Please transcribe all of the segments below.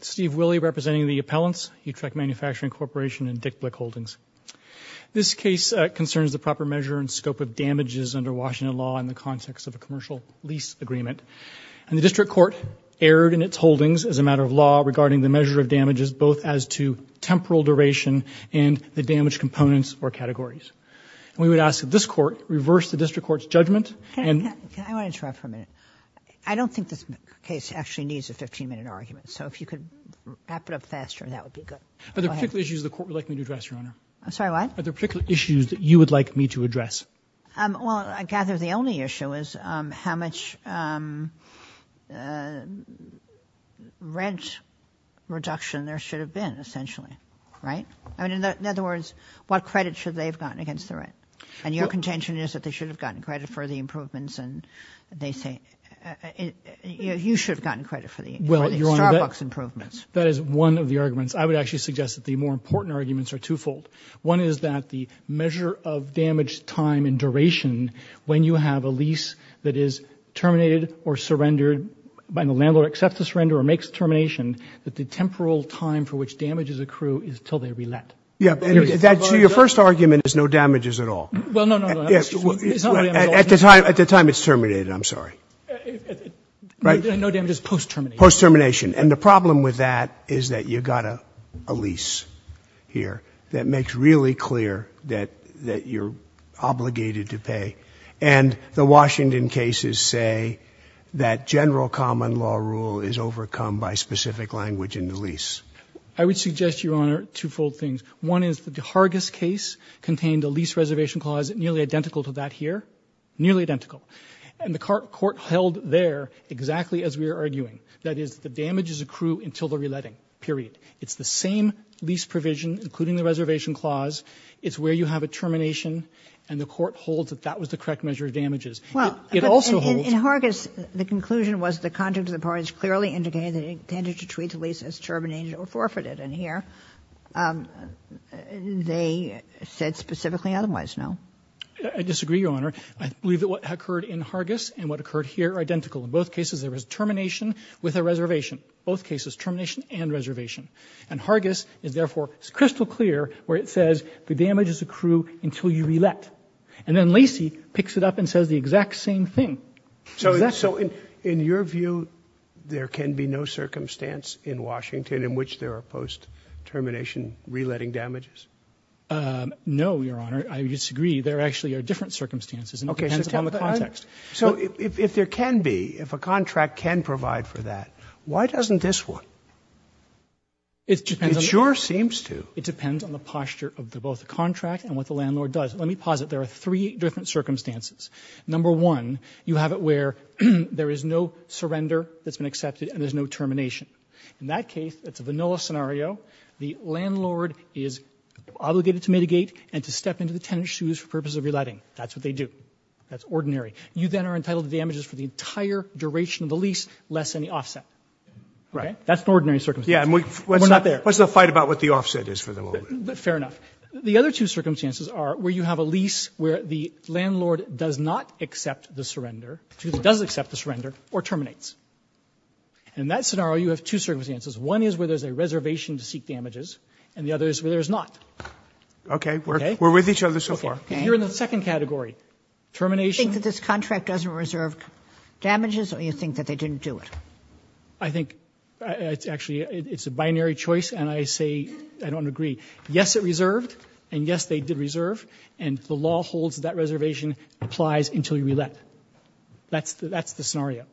Steve Willey representing the appellants, Utrecht Manufacturing Corporation, and Dick Blick Holdings. This case concerns the proper measure and scope of damages under Washington law in the context of a commercial lease agreement, and the District Court erred in its holdings as a matter of law regarding the measure of damages, both as to temporal duration and the damage components or categories. We would ask that this Court reverse the District Court's judgment and- I want to interrupt for a minute. I don't think this case actually needs a 15-minute argument, so if you could wrap it up faster, that would be good. Go ahead. Are there particular issues the Court would like me to address, Your Honor? I'm sorry, what? Are there particular issues that you would like me to address? Well, I gather the only issue is how much rent reduction there should have been, essentially, right? In other words, what credit should they have gotten against the rent? And your contention is that they should have gotten credit for the improvements, and they say you should have gotten credit for the Starbucks improvements. That is one of the arguments. I would actually suggest that the more important arguments are twofold. One is that the measure of damage time and duration, when you have a lease that is terminated or surrendered and the landlord accepts the surrender or makes the termination, that the Your first argument is no damages at all. At the time it's terminated, I'm sorry. No damages post-termination. Post-termination. And the problem with that is that you've got a lease here that makes really clear that you're obligated to pay, and the Washington cases say that general common law rule is overcome by specific language in the lease. I would suggest, Your Honor, twofold things. One is the Hargis case contained a lease reservation clause nearly identical to that here. Nearly identical. And the court held there exactly as we were arguing. That is, the damages accrue until the reletting, period. It's the same lease provision, including the reservation clause. It's where you have a termination, and the court holds that that was the correct measure of damages. It also holds Well, in Hargis, the conclusion was the conduct of the parties clearly indicated that it intended to treat the lease as terminated or forfeited in here. They said specifically otherwise, no. I disagree, Your Honor. I believe that what occurred in Hargis and what occurred here are identical. In both cases, there was termination with a reservation. Both cases, termination and reservation. And Hargis is therefore crystal clear where it says the damages accrue until you relet. And then Lacey picks it up and says the exact same thing. So in your view, there can be no circumstance in Washington in which there are post-termination reletting damages? No, Your Honor. I disagree. There actually are different circumstances. It depends on the context. So if there can be, if a contract can provide for that, why doesn't this one? It depends on the It sure seems to. It depends on the posture of both the contract and what the landlord does. Let me posit there are three different circumstances. Number one, you have it where there is no surrender that's been accepted and there's no termination. In that case, it's a vanilla scenario. The landlord is obligated to mitigate and to step into the tenant's shoes for purposes of reletting. That's what they do. That's ordinary. You then are entitled to damages for the entire duration of the lease, less than the offset. Right. That's an ordinary circumstance. We're not there. What's the fight about what the offset is for the moment? Fair enough. The other two circumstances are where you have a lease where the landlord does not accept the surrender, does accept the surrender, or terminates. In that scenario, you have two circumstances. One is where there's a reservation to seek damages, and the other is where there's not. Okay. We're with each other so far. You're in the second category. Termination. You think that this contract doesn't reserve damages or you think that they didn't do it? I think it's actually, it's a binary choice, and I say, I don't agree. Yes, it reserved, and yes, they did reserve, and the law holds that reservation applies until you relet. That's the scenario.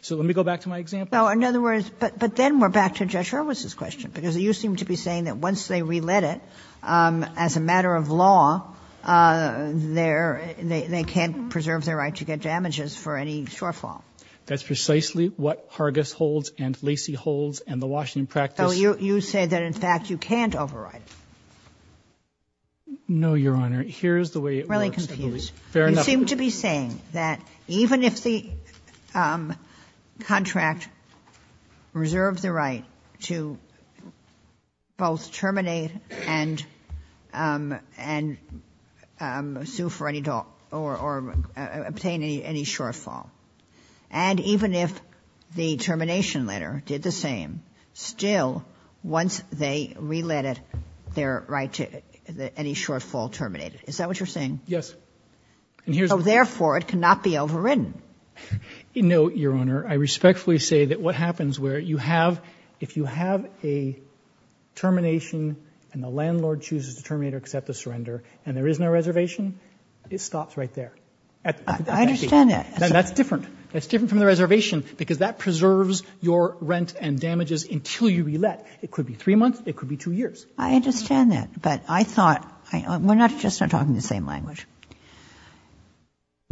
So let me go back to my example. In other words, but then we're back to Judge Hurwitz's question, because you seem to be saying that once they relet it, as a matter of law, they can't preserve their right to get damages for any shortfall. That's precisely what Hargis holds and Lacy holds and the Washington practice. So you say that, in fact, you can't override it? No, Your Honor. Here's the way it works, I believe. Really confused. Fair enough. You seem to be saying that even if the contract reserved the right to both terminate and sue for any, or obtain any shortfall, and even if the termination letter did the same, still, once they relet it, their right to any shortfall terminated. Is that what you're saying? Yes. So therefore, it cannot be overridden? No, Your Honor. I respectfully say that what happens where you have, if you have a termination, and the landlord chooses to terminate or accept the surrender, and there is no reservation, it stops right there. I understand that. That's different. That's different from the reservation because that preserves your rent and damages until you relet. It could be three months. It could be two years. I understand that. But I thought, we're just not talking the same language.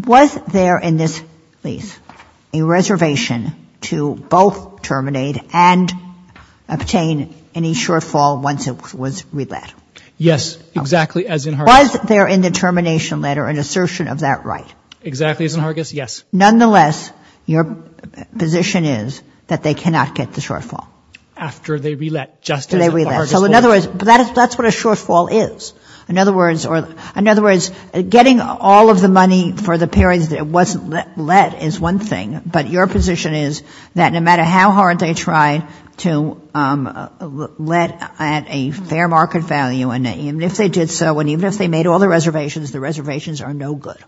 Was there in this lease a reservation to both terminate and obtain any shortfall once it was relet? Yes, exactly as in Hargis. Was there in the termination letter an assertion of that right? Exactly as in Hargis, yes. Nonetheless, your position is that they cannot get the shortfall. After they relet, just as in Hargis. So in other words, that's what a shortfall is. In other words, getting all of the money for the periods that it wasn't let is one thing, but your position is that no matter how hard they try to let at a fair market value, and even if they did so, and even if they made all the reservations, the reservations are no good.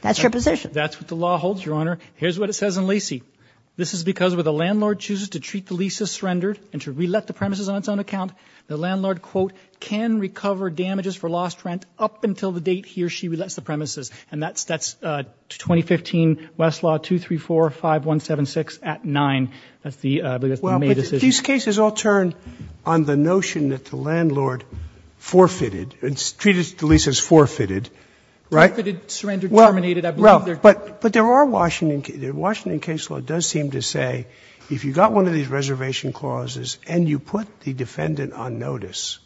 That's your position. That's what the law holds, your honor. Here's what it says in Lacey. This is because where the landlord chooses to treat the leases surrendered and to relet the premises on its own account, the landlord, quote, can recover damages for lost rent up until the date he or she relets the premises. And that's 2015 Westlaw 2345176 at 9. That's the decision. These cases all turn on the notion that the landlord forfeited, and treated the leases forfeited, right? Forfeited, surrendered, terminated. I believe they're true. But there are Washington cases. The Washington case law does seem to say if you got one of these reservation clauses and you put the defendant on notice,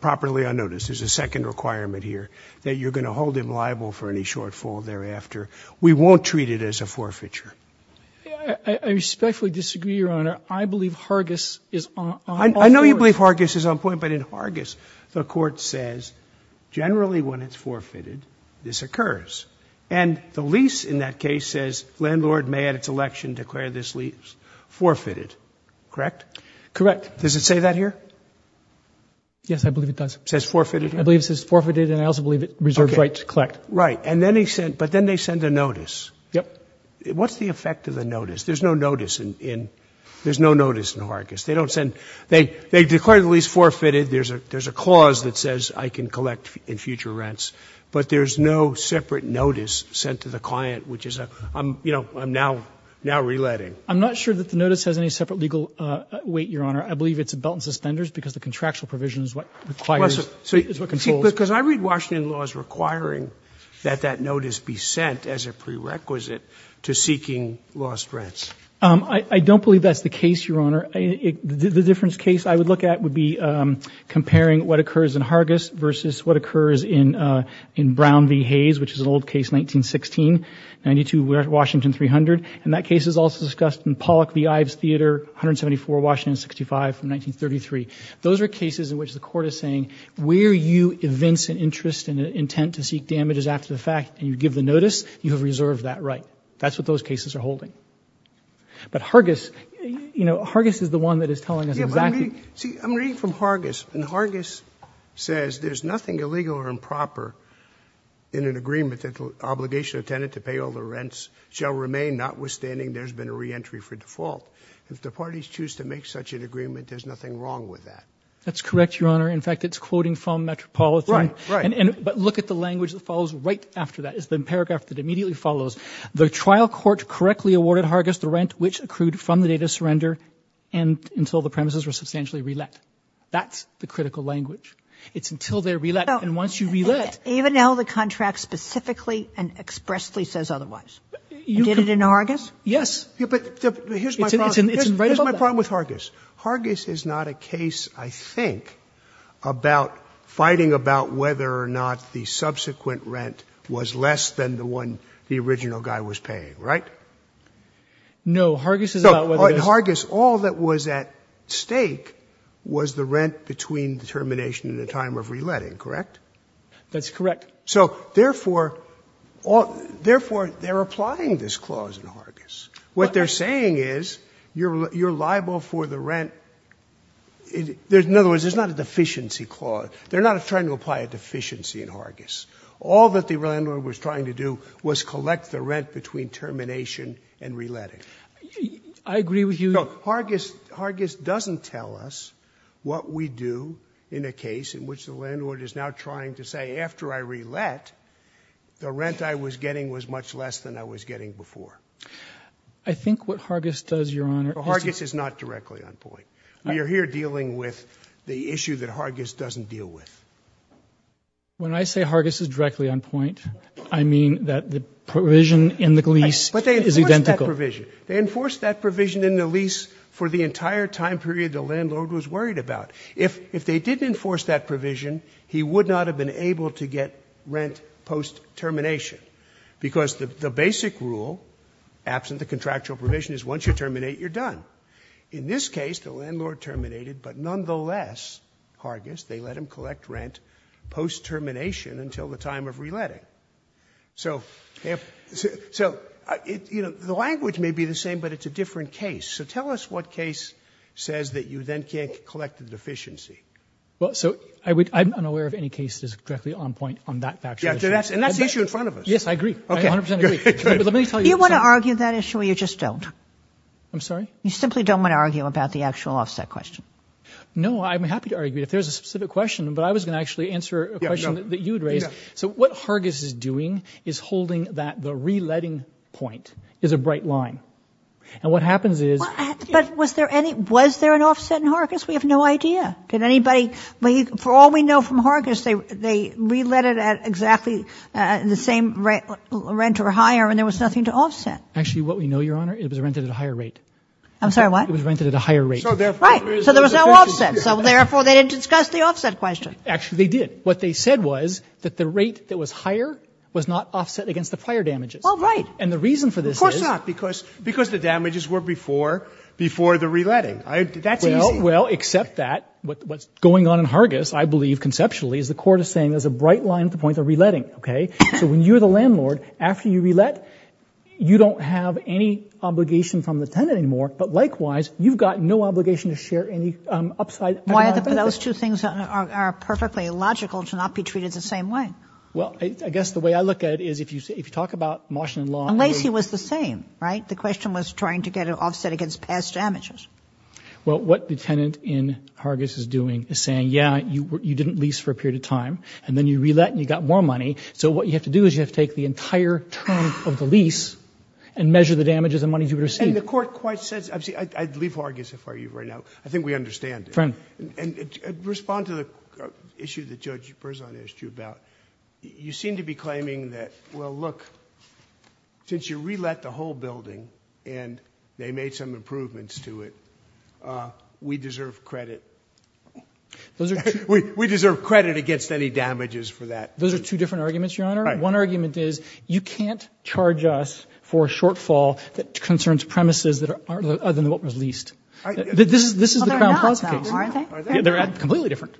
properly on notice, there's a second requirement here, that you're going to hold him liable for any shortfall thereafter. We won't treat it as a forfeiture. I respectfully disagree, Your Honor. I believe Hargis is on point. I know you believe Hargis is on point, but in Hargis the Court says generally when it's forfeited, this occurs. And the lease in that case says landlord may at its election declare this lease forfeited, correct? Correct. Does it say that here? Yes, I believe it does. Says forfeited? I believe it says forfeited, and I also believe it reserves right to collect. Right. And then they send, but then they send a notice. Yep. What's the effect of the notice? There's no notice in Hargis. They don't send, they declare the lease forfeited. There's a clause that says I can collect in future rents, but there's no separate notice sent to the client, which is a, you know, I'm now reletting. I'm not sure that the notice has any separate legal weight, Your Honor. I believe it's a belt and suspenders because the contractual provision is what requires, is what controls. Because I read Washington laws requiring that that notice be sent as a prerequisite to seeking lost rents. I don't believe that's the case, Your Honor. The difference case I would look at would be comparing what occurs in Hargis versus what occurs in Brown v. Hayes, which is an old case, 1916, 92, Washington 300. And that case is also discussed in Pollock v. Ives Theater, 174, Washington 65 from 1933. Those are cases in which the court is saying where you evince an interest and an intent to seek damages after the fact, and you give the notice, you have reserved that right. That's what those cases are holding. But Hargis, you know, Hargis is the one that is telling us exactly. See, I'm reading from Hargis, and Hargis says there's nothing illegal or improper in an agreement that the obligation of a tenant to pay all the rents shall remain, notwithstanding there's been a reentry for default. If the parties choose to make such an agreement, there's nothing wrong with that. That's correct, Your Honor. In fact, it's quoting from Metropolitan. Right, right. But look at the language that follows right after that. It's the paragraph that immediately follows. The trial court correctly awarded Hargis the rent which accrued from the date of surrender until the premises were substantially re-let. That's the critical language. It's until they're re-let, and once you re-let. Even now the contract specifically and expressly says otherwise. You did it in Hargis? Yes. But here's my problem with Hargis. Hargis is not a case, I think, about fighting about whether or not the subsequent rent was less than the one the original guy was paying, right? No. Hargis is about whether or not— Hargis, all that was at stake was the rent between the termination and the time of re-letting, correct? That's correct. So therefore, they're applying this clause in Hargis. What they're saying is you're liable for the rent. In other words, it's not a deficiency clause. They're not trying to apply a deficiency in Hargis. All that the landlord was trying to do was collect the rent between termination and re-letting. I agree with you— No, Hargis doesn't tell us what we do in a case in which the landlord is now trying to say, after I re-let, the rent I was getting was much less than I was getting before. I think what Hargis does, Your Honor— Hargis is not directly on point. We are here dealing with the issue that Hargis doesn't deal with. When I say Hargis is directly on point, I mean that the provision in the lease is identical. But they enforced that provision. They enforced that provision in the lease for the entire time period the landlord was worried about. If they didn't enforce that provision, he would not have been able to get rent post-termination. Because the basic rule, absent the contractual provision, is once you terminate, you're done. In this case, the landlord terminated, but nonetheless, Hargis, they let him collect rent post-termination until the time of re-letting. So, you know, the language may be the same, but it's a different case. So tell us what case says that you then can't collect the deficiency. Well, so I'm unaware of any case that is directly on point on that actual issue. And that's the issue in front of us. Yes, I agree. I 100 percent agree. But let me tell you— You want to argue that issue or you just don't? I'm sorry? You simply don't want to argue about the actual offset question? No, I'm happy to argue it. There's a specific question, but I was going to actually answer a question that you had raised. So what Hargis is doing is holding that the re-letting point is a bright line. And what happens is— But was there any—was there an offset in Hargis? We have no idea. Did anybody—for all we know from Hargis, they re-let it at exactly the same rent or higher and there was nothing to offset. Actually, what we know, Your Honor, it was rented at a higher rate. I'm sorry, what? It was rented at a higher rate. So therefore— Right. So there was no offset. So therefore, they didn't discuss the offset question. Actually, they did. What they said was that the rate that was higher was not offset against the prior damages. Well, right. And the reason for this is— Of course not, because the damages were before the re-letting. That's easy. Well, except that, what's going on in Hargis, I believe, conceptually, is the court is saying there's a bright line at the point of re-letting, okay? So when you're the landlord, after you re-let, you don't have any obligation from the tenant anymore, but likewise, you've got no obligation to share any upside— Why are those two things are perfectly illogical to not be treated the same way? Well, I guess the way I look at it is if you talk about Moshin and Law— Unless he was the same, right? The question was trying to get an offset against past damages. Well, what the tenant in Hargis is doing is saying, yeah, you didn't lease for a period of time, and then you re-let and you got more money, so what you have to do is you have to take the entire term of the lease and measure the damages and money you received. And the court quite says—I'd leave Hargis, if I were you right now. I think we understand it. And respond to the issue that Judge Berzon asked you about. You seem to be claiming that, well, look, since you re-let the whole building and they made some improvements to it, we deserve credit. We deserve credit against any damages for that. Those are two different arguments, Your Honor. One argument is you can't charge us for a shortfall that concerns premises that are other than what was leased. This is the Crown Plaza case. They're completely different.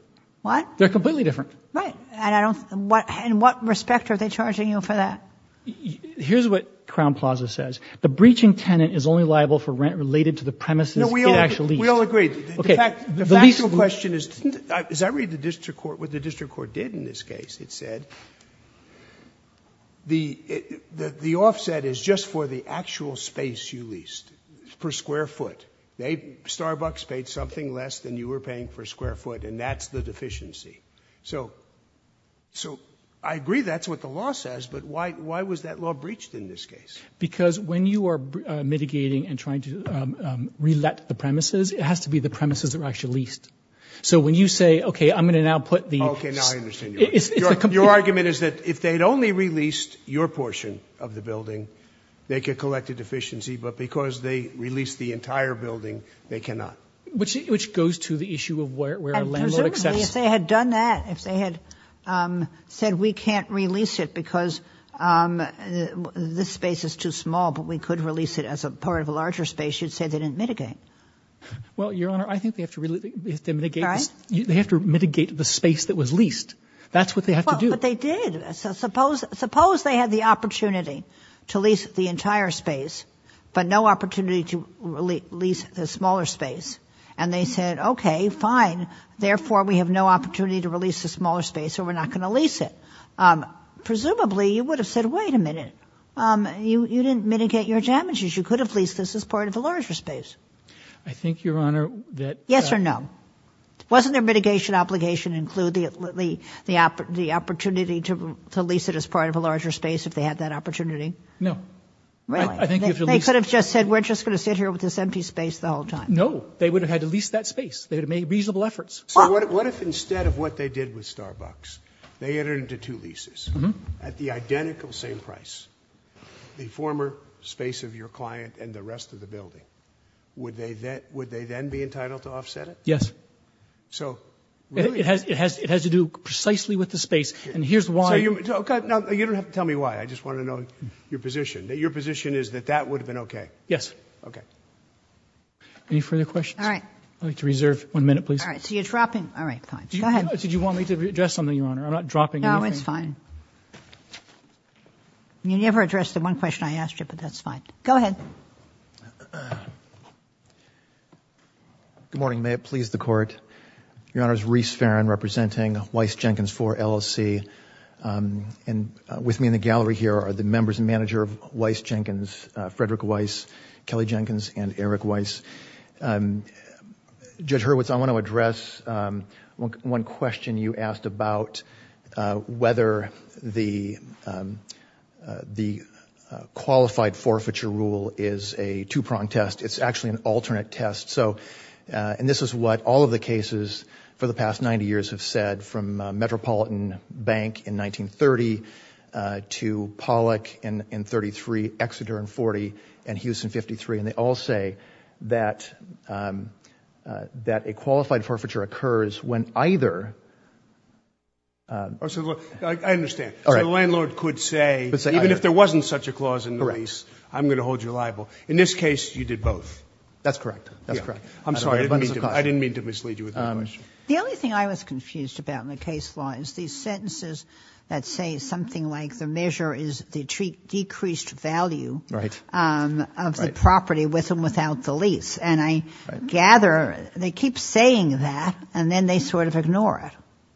They're completely different. Right. And I don't — in what respect are they charging you for that? Here's what Crown Plaza says. The breaching tenant is only liable for rent related to the premises it actually leased. No, we all agree. The factual question is, as I read the district court, what the district court did in this case, it said, the offset is just for the actual space you leased per square foot. They — Starbucks paid something less than you were paying for square foot, and that's the deficiency. So I agree that's what the law says, but why was that law breached in this case? Because when you are mitigating and trying to re-let the premises, it has to be the premises that were actually leased. Okay, now I understand your argument. Your argument is that if they had only released your portion of the building, they could collect a deficiency, but because they released the entire building, they cannot. Which goes to the issue of where a landlord accepts — Presumably, if they had done that, if they had said, we can't release it because this space is too small, but we could release it as a part of a larger space, you'd say they didn't mitigate. Well, Your Honor, I think they have to mitigate the space that was leased. That's what they have to do. But they did. So suppose they had the opportunity to lease the entire space, but no opportunity to release the smaller space. And they said, okay, fine, therefore we have no opportunity to release the smaller space, so we're not going to lease it. Presumably, you would have said, wait a minute, you didn't mitigate your damages. You could have leased this as part of a larger space. I think, Your Honor, that — Yes or no? Wasn't their mitigation obligation include the opportunity to lease it as part of a larger space if they had that opportunity? No. Really? They could have just said, we're just going to sit here with this empty space the whole time. No. They would have had to lease that space. They would have made reasonable efforts. So what if instead of what they did with Starbucks, they entered into two leases at the identical same price, the former space of your client and the rest of the building? Would they then be entitled to offset it? Yes. So, really? It has to do precisely with the space. And here's why — So, you don't have to tell me why. I just want to know your position. Your position is that that would have been okay? Yes. Okay. Any further questions? All right. I'd like to reserve one minute, please. All right. So you're dropping — all right, fine. Go ahead. Did you want me to address something, Your Honor? I'm not dropping anything. No, it's fine. You never addressed the one question I asked you, but that's fine. Go ahead. Good morning. May it please the Court. Your Honor, it's Reece Farin representing Weiss-Jenkins IV, LLC. And with me in the gallery here are the members and manager of Weiss-Jenkins, Frederick Weiss, Kelly Jenkins, and Eric Weiss. Judge Hurwitz, I want to address one question you asked about whether the qualified forfeiture rule is a two-pronged test. It's actually an alternate test. And this is what all of the cases for the past 90 years have said, from Metropolitan Bank in 1930 to Pollack in 1933, Exeter in 1940, and Houston in 1953. And they all say that a qualified forfeiture occurs when either — I understand. All right. So the landlord could say, even if there wasn't such a clause in the lease, I'm going to hold you liable. In this case, you did both. That's correct. That's correct. I'm sorry. I didn't mean to mislead you with that question. The only thing I was confused about in the case law is these sentences that say something like the measure is the decreased value of the property with and without the lease. And I gather they keep saying that, and then they sort of ignore it.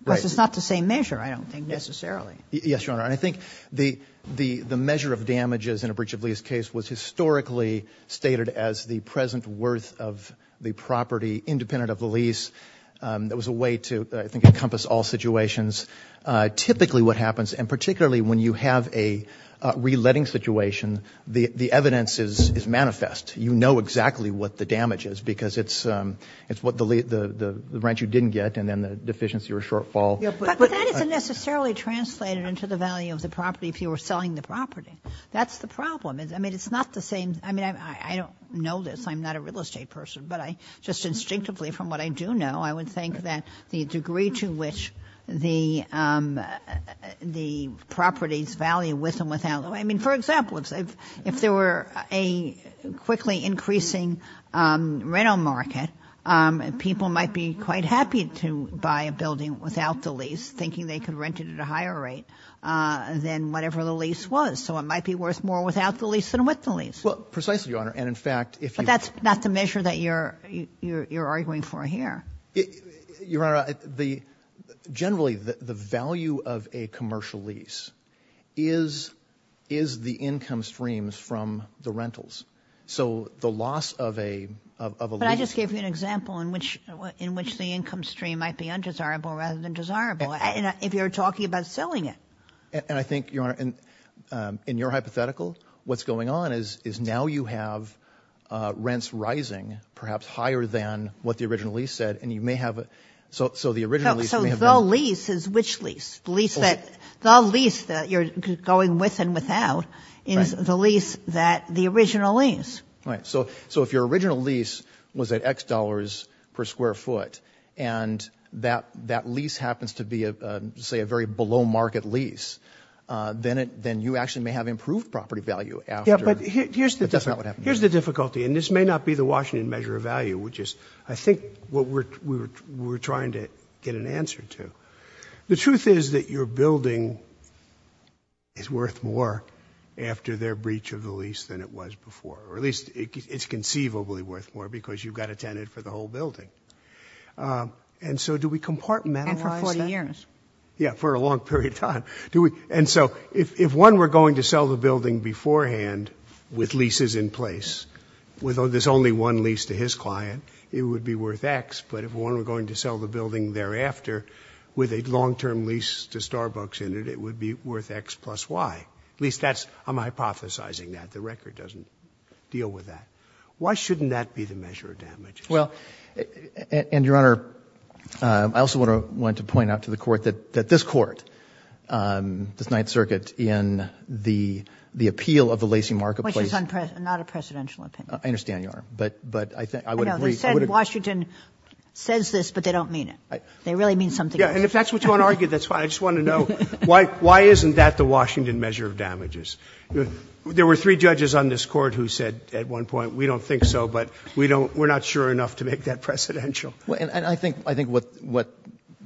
Right. Because it's not the same measure, I don't think, necessarily. Yes, Your Honor. And I think the measure of damages in a breach-of-lease case was historically stated as the present worth of the property independent of the lease. That was a way to, I think, encompass all situations. Typically what happens, and particularly when you have a reletting situation, the evidence is manifest. You know exactly what the damage is because it's what the rent you didn't get, and then the deficiency or shortfall — But that isn't necessarily translated into the value of the property if you were selling the property. That's the problem. I mean, it's not the same — I mean, I don't know this. I'm not a real estate person, but just instinctively from what I do know, I would think that the degree to which the properties value with and without — I mean, for example, if there were a quickly increasing rental market, people might be quite happy to buy a building without the lease, thinking they could rent it at a higher rate than whatever the lease was. So it might be worth more without the lease than with the lease. Well, precisely, Your Honor. And in fact, if you — But that's not the measure that you're arguing for here. Your Honor, generally the value of a commercial lease is the income streams from the rentals. So the loss of a lease — But I just gave you an example in which the income stream might be undesirable rather than desirable, if you're talking about selling it. And I think, Your Honor, in your hypothetical, what's going on is now you have rents rising perhaps higher than what the original lease said, and you may have — so the original lease may have — So the lease is which lease? The lease that — the lease that you're going with and without is the lease that the original lease — Right. So if your original lease was at X dollars per square foot, and that lease happens to be, say, a very below-market lease, then you actually may have improved property value after — Yeah, but here's the — But that's not what happened. Here's the difficulty, and this may not be the Washington measure of value, which is I think what we're trying to get an answer to. The truth is that your building is worth more after their breach of the lease than it was before, or at least it's conceivably worth more because you've got a tenant for the whole building. And so do we compartmentalize that? And for 40 years. Yeah, for a long period of time. And so if one were going to sell the building beforehand with leases in place, with this only one lease to his client, it would be worth X, but if one were going to sell the building thereafter with a long-term lease to Starbucks in it, it would be worth X plus Y. At least that's — I'm hypothesizing that. But the record doesn't deal with that. Why shouldn't that be the measure of damages? Well, and, Your Honor, I also want to point out to the Court that this Court, this Ninth Circuit, in the appeal of the Lacey Marketplace — Which is not a presidential opinion. I understand, Your Honor. But I think — I know. They said Washington says this, but they don't mean it. They really mean something else. Yeah. And if that's what you want to argue, that's fine. I just want to know why isn't that the Washington measure of damages? There were three judges on this Court who said at one point, we don't think so, but we don't — we're not sure enough to make that presidential. And I think what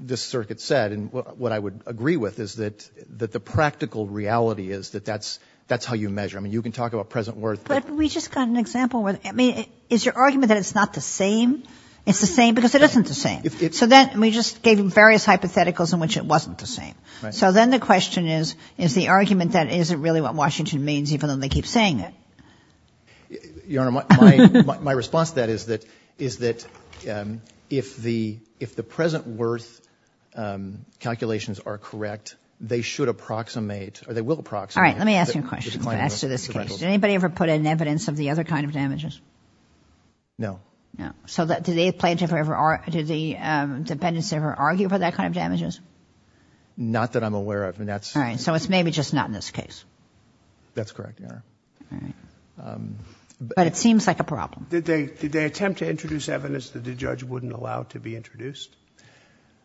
this Circuit said, and what I would agree with, is that the practical reality is that that's how you measure. I mean, you can talk about present worth, but — But we just got an example where — I mean, is your argument that it's not the same? It's the same? Because it isn't the same. So then we just gave him various hypotheticals in which it wasn't the same. Right. So then the question is, is the argument that isn't really what Washington means even though they keep saying it? Your Honor, my response to that is that — is that if the — if the present worth calculations are correct, they should approximate, or they will approximate — All right. Let me ask you a question to answer this case. Did anybody ever put in evidence of the other kind of damages? No. No. So did the plaintiffs ever — did the defendants ever argue for that kind of damages? Not that I'm aware of. And that's — All right. So it's maybe just not in this case. That's correct, Your Honor. All right. But it seems like a problem. Did they attempt to introduce evidence that the judge wouldn't allow to be introduced?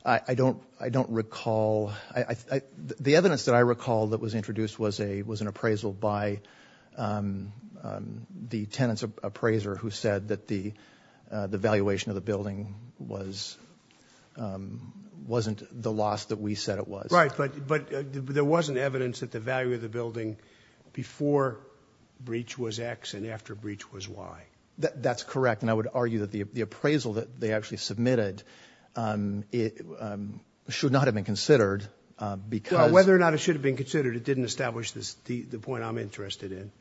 I don't — I don't recall. The evidence that I recall that was introduced was a — was an appraisal by the tenant's Right. But there wasn't evidence that the value of the building before breach was X and after breach was Y. That's correct. And I would argue that the appraisal that they actually submitted should not have been considered because — Well, whether or not it should have been considered, it didn't establish the point I'm interested in,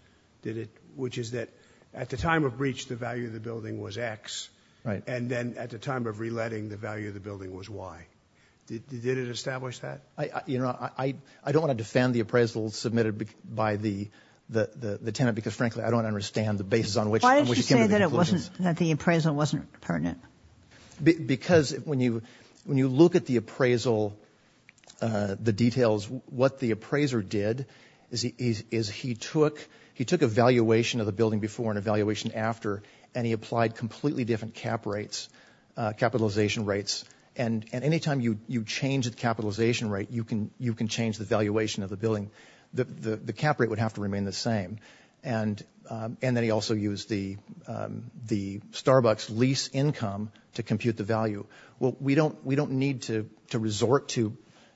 did it? Which is that at the time of breach, the value of the building was X. Right. And then at the time of reletting, the value of the building was Y. Did it establish that? Your Honor, I don't want to defend the appraisal submitted by the tenant because, frankly, I don't understand the basis on which — Why did you say that it wasn't — that the appraisal wasn't pertinent? Because when you look at the appraisal, the details, what the appraiser did is he took — he took a valuation of the building before and a valuation after, and he applied completely different cap rates, capitalization rates. And any time you change the capitalization rate, you can change the valuation of the building. The cap rate would have to remain the same. And then he also used the Starbucks lease income to compute the value. Well, we don't need to resort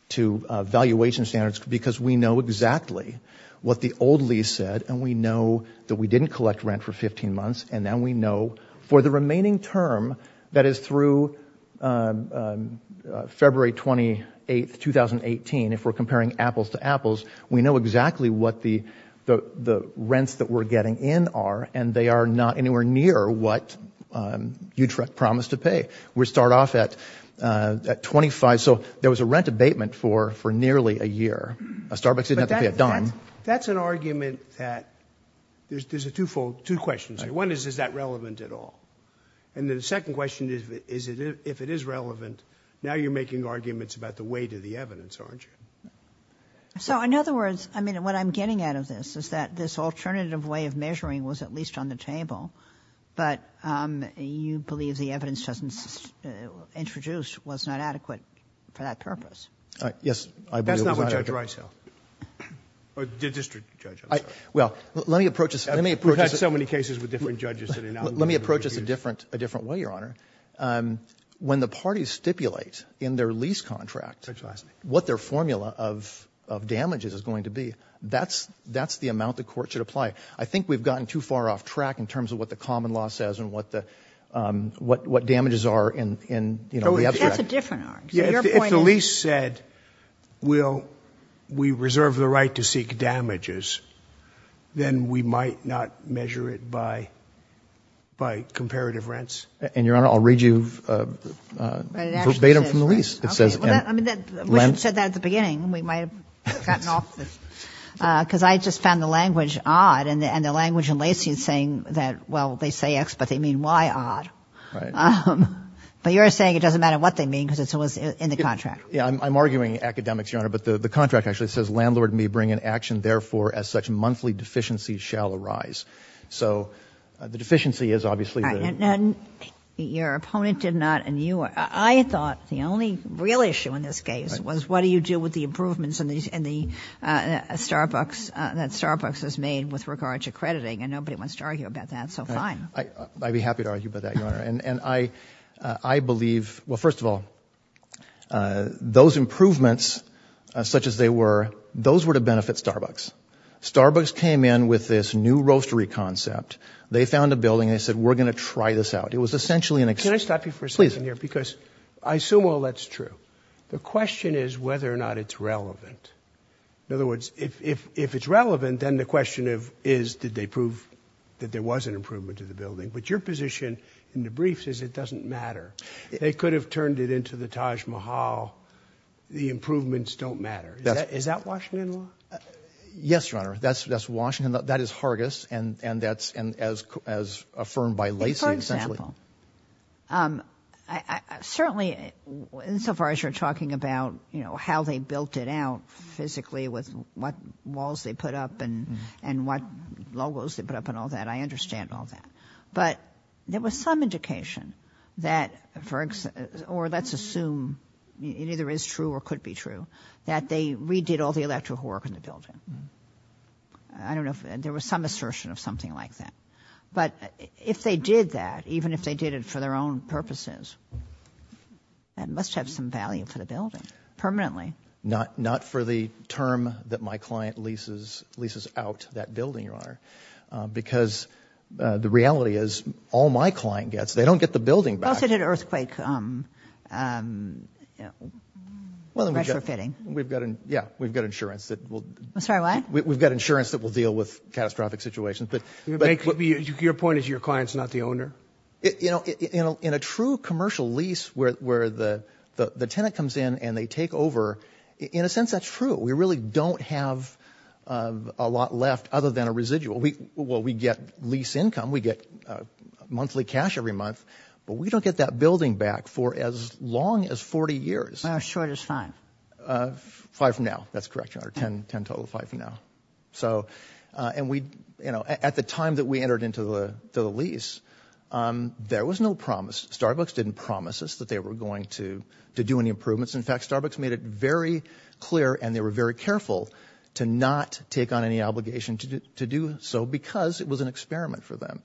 to valuation standards because we know exactly what the old lease said, and we know that we didn't collect rent for 15 months, and now we know for the remaining term, that is through February 28, 2018, if we're comparing apples to apples, we know exactly what the rents that we're getting in are, and they are not anywhere near what Utrecht promised to pay. We start off at 25, so there was a rent abatement for nearly a year. A Starbucks didn't have to pay a dime. But that's an argument that — there's a twofold — two questions here. One is, is that relevant at all? And the second question is, if it is relevant, now you're making arguments about the weight of the evidence, aren't you? So, in other words, I mean, what I'm getting out of this is that this alternative way of measuring was at least on the table, but you believe the evidence just introduced was not adequate for that purpose. Yes, I believe it was adequate. That's not what Judge Reishel — or the district judge, I'm sorry. Well, let me approach this — let me approach this — Let me approach this a different way, Your Honor. When the parties stipulate in their lease contract what their formula of damages is going to be, that's the amount the court should apply. I think we've gotten too far off track in terms of what the common law says and what the — what damages are in, you know, the abstract. That's a different argument. If the lease said, well, we reserve the right to seek damages, then we might not measure it by comparative rents. And, Your Honor, I'll read you verbatim from the lease. It says — I mean, we should have said that at the beginning. We might have gotten off the — because I just found the language odd, and the language in Lacey is saying that, well, they say X, but they mean Y odd. Right. But you're saying it doesn't matter what they mean because it's always in the contract. Yeah, I'm arguing academics, Your Honor, but the contract actually says, Therefore, as such, monthly deficiencies shall arise. So the deficiency is obviously the — Now, your opponent did not, and you — I thought the only real issue in this case was what do you do with the improvements in the Starbucks — that Starbucks has made with regard to crediting, and nobody wants to argue about that, so fine. And I believe — well, first of all, those improvements, such as they were, those were to benefit Starbucks. Starbucks came in with this new roastery concept. They found a building. They said, We're going to try this out. It was essentially an — Can I stop you for a second here? Please. Because I assume all that's true. The question is whether or not it's relevant. In other words, if it's relevant, then the question is, did they prove that there was an improvement to the building? But your position in the briefs is it doesn't matter. They could have turned it into the Taj Mahal. The improvements don't matter. Is that Washington law? Yes, Your Honor. That's Washington. That is Hargis, and that's — and as affirmed by Lacey, essentially — For example, certainly, insofar as you're talking about, you know, how they built it out physically with what walls they put up and what logos they put up and all that, I understand all that. But there was some indication that, or let's assume it either is true or could be true, that they redid all the electrical work in the building. I don't know if — there was some assertion of something like that. But if they did that, even if they did it for their own purposes, that must have some value for the building permanently. Not for the term that my client leases out that building, Your Honor. Because the reality is, all my client gets, they don't get the building back. Plus it had an earthquake. Well, then we've got — Pressure fitting. Yeah, we've got insurance that will — I'm sorry, what? We've got insurance that will deal with catastrophic situations. Your point is your client's not the owner? You know, in a true commercial lease where the tenant comes in and they take over, in a sense that's true. We really don't have a lot left other than a residual. Well, we get lease income. We get monthly cash every month. But we don't get that building back for as long as 40 years. Well, as short as five. Five from now. That's correct, Your Honor. Ten total, five from now. And at the time that we entered into the lease, there was no promise. Starbucks didn't promise us that they were going to do any improvements. In fact, Starbucks made it very clear and they were very careful to not take on any obligation to do so because it was an experiment for them.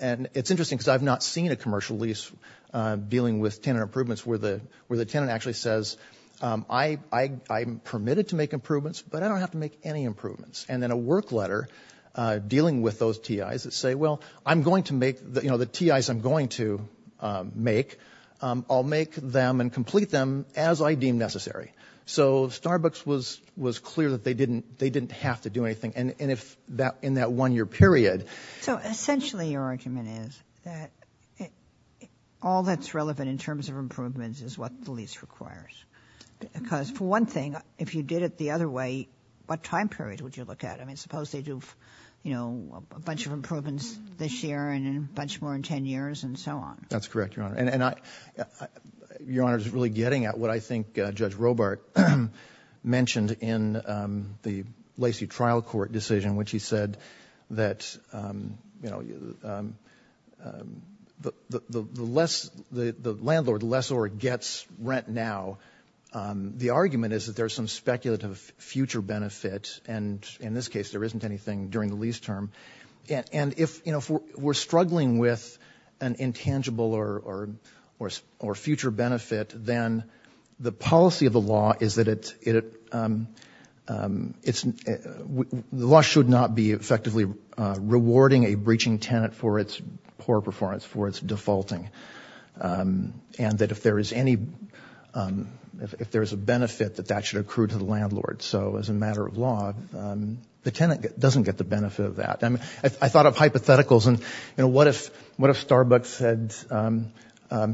And it's interesting because I've not seen a commercial lease dealing with tenant improvements where the tenant actually says, I'm permitted to make improvements, but I don't have to make any improvements. And then a work letter dealing with those TIs that say, well, I'm going to make, you know, the TIs I'm going to make, I'll make them and complete them as I deem necessary. So Starbucks was clear that they didn't have to do anything. And in that one-year period. So essentially your argument is that all that's relevant in terms of improvements is what the lease requires. Because for one thing, if you did it the other way, what time period would you look at? I mean, suppose they do, you know, a bunch of improvements this year and a bunch more in ten years and so on. That's correct, Your Honor. And I, Your Honor, is really getting at what I think Judge Robart mentioned in the Lacey trial court decision, which he said that, you know, the less, the landlord, the lessor gets rent now, the argument is that there's some speculative future benefit. And in this case, there isn't anything during the lease term. And if, you know, we're struggling with an intangible or future benefit, then the policy of the law is that it, the law should not be effectively rewarding a breaching tenant for its poor performance, for its defaulting. And that if there is any, if there is a benefit, that that should accrue to the landlord. So as a matter of law, the tenant doesn't get the benefit of that. I mean, I thought of hypotheticals and, you know, what if Starbucks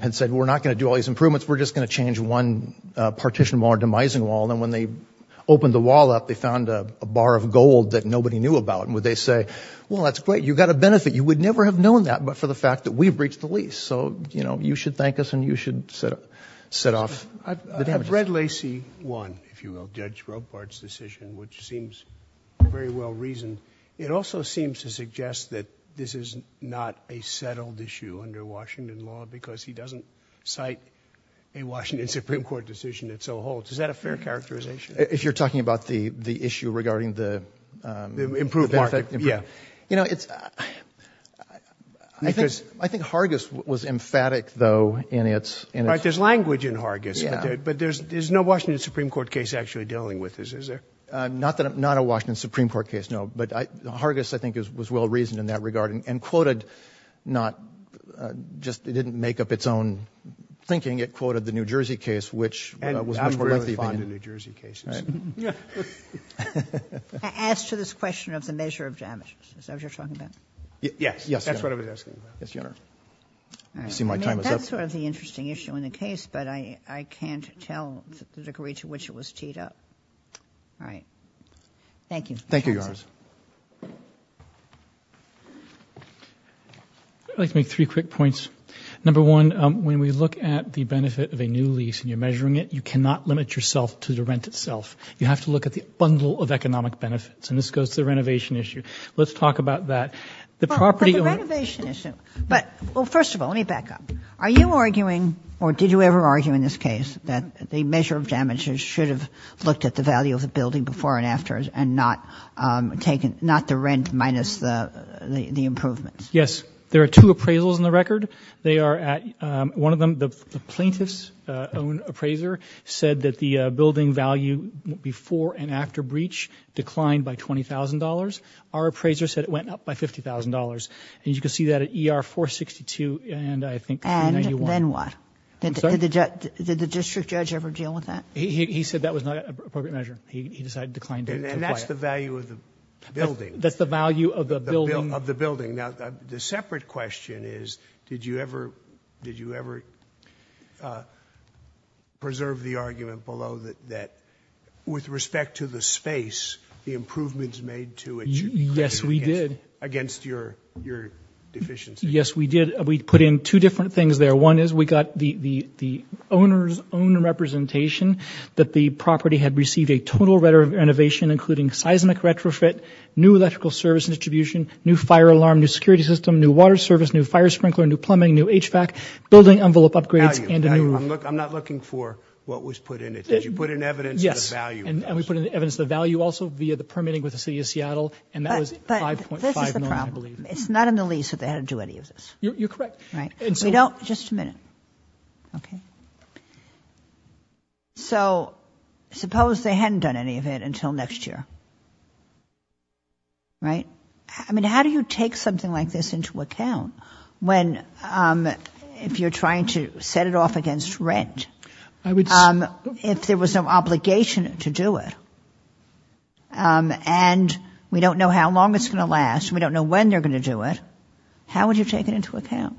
had said, we're not going to do all these improvements, we're just going to change one partition wall or demising wall. And when they opened the wall up, they found a bar of gold that nobody knew about. And would they say, well, that's great, you got a benefit. You would never have known that but for the fact that we breached the lease. So, you know, you should thank us and you should set off the damages. I've read Lacey 1, if you will, Judge Robart's decision, which seems very well reasoned. It also seems to suggest that this is not a settled issue under Washington law because he doesn't cite a Washington Supreme Court decision that so holds. Is that a fair characterization? If you're talking about the issue regarding the benefit. Improved market, yeah. You know, I think Hargis was emphatic, though, in its. Right, there's language in Hargis. But there's no Washington Supreme Court case actually dealing with this, is there? Not a Washington Supreme Court case, no. But Hargis, I think, was well reasoned in that regard and quoted not just, it didn't make up its own thinking. It quoted the New Jersey case, which was much more about the opinion. And I'm very fond of New Jersey cases. I ask to this question of the measure of damages. Is that what you're talking about? Yes. That's what I was asking about. Yes, Your Honor. I see my time is up. That's sort of the interesting issue in the case. But I can't tell the degree to which it was teed up. All right. Thank you. Thank you, Your Honor. I'd like to make three quick points. Number one, when we look at the benefit of a new lease and you're measuring it, you cannot limit yourself to the rent itself. You have to look at the bundle of economic benefits. And this goes to the renovation issue. Let's talk about that. But the renovation issue. Well, first of all, let me back up. Are you arguing, or did you ever argue in this case, that the measure of damages should have looked at the value of the building before and after and not the rent minus the improvements? Yes. There are two appraisals in the record. One of them, the plaintiff's own appraiser, said that the building value before and after breach declined by $20,000. Our appraiser said it went up by $50,000. And you can see that at ER 462 and I think 291. And then what? I'm sorry? Did the district judge ever deal with that? He said that was not an appropriate measure. He decided to decline to apply it. And that's the value of the building? That's the value of the building. Now, the separate question is, did you ever preserve the argument below that with respect to the space, the improvements made to it should be created against your deficiencies? Yes, we did. We put in two different things there. One is we got the owner's own representation that the property had received a total renovation, including seismic retrofit, new electrical service distribution, new fire alarm, new security system, new water service, new fire sprinkler, new plumbing, new HVAC, building envelope upgrades, and a new roof. I'm not looking for what was put in it. Did you put in evidence of the value? Yes, and we put in evidence of the value also via the permitting with the City of Seattle. And that was $5.5 million, I believe. But this is the problem. It's not in the lease that they had to do any of this. You're correct. We don't – just a minute. Okay. So suppose they hadn't done any of it until next year, right? I mean, how do you take something like this into account when, if you're trying to set it off against rent, if there was no obligation to do it, and we don't know how long it's going to last, we don't know when they're going to do it, how would you take it into account?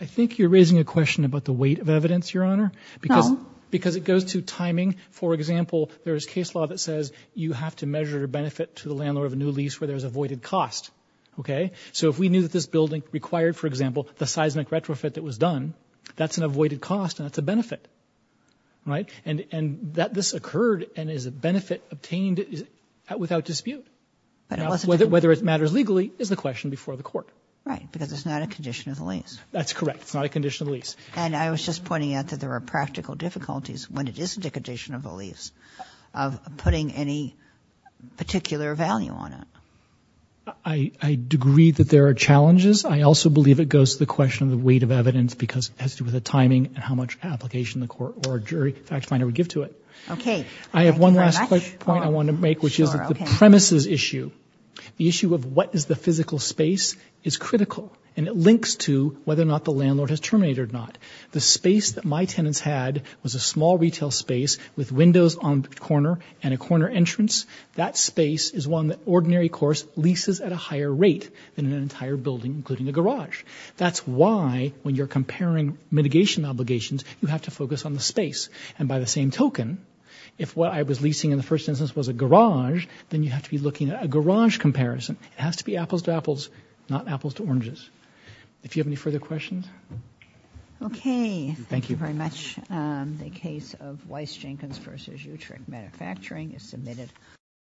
I think you're raising a question about the weight of evidence, Your Honor. No. Because it goes to timing. For example, there is case law that says you have to measure your benefit to the landlord of a new lease where there's avoided cost, okay? So if we knew that this building required, for example, the seismic retrofit that was done, that's an avoided cost and that's a benefit, right? And that this occurred and is a benefit obtained without dispute. Whether it matters legally is the question before the court. Right, because it's not a condition of the lease. That's correct. It's not a condition of the lease. And I was just pointing out that there are practical difficulties when it is a condition of the lease of putting any particular value on it. I agree that there are challenges. I also believe it goes to the question of the weight of evidence because it has to do with the timing and how much application the court or jury fact finder would give to it. Okay. I have one last point I want to make, which is the premises issue. The issue of what is the physical space is critical, and it links to whether or not the landlord has terminated or not. The space that my tenants had was a small retail space with windows on the corner and a corner entrance. That space is one that ordinary course leases at a higher rate than an entire building, including a garage. That's why when you're comparing mitigation obligations, you have to focus on the space. And by the same token, if what I was leasing in the first instance was a garage, then you have to be looking at a garage comparison. It has to be apples to apples, not apples to oranges. If you have any further questions. Okay. Thank you very much. The case of Weiss-Jenkins v. Utrecht Manufacturing is submitted.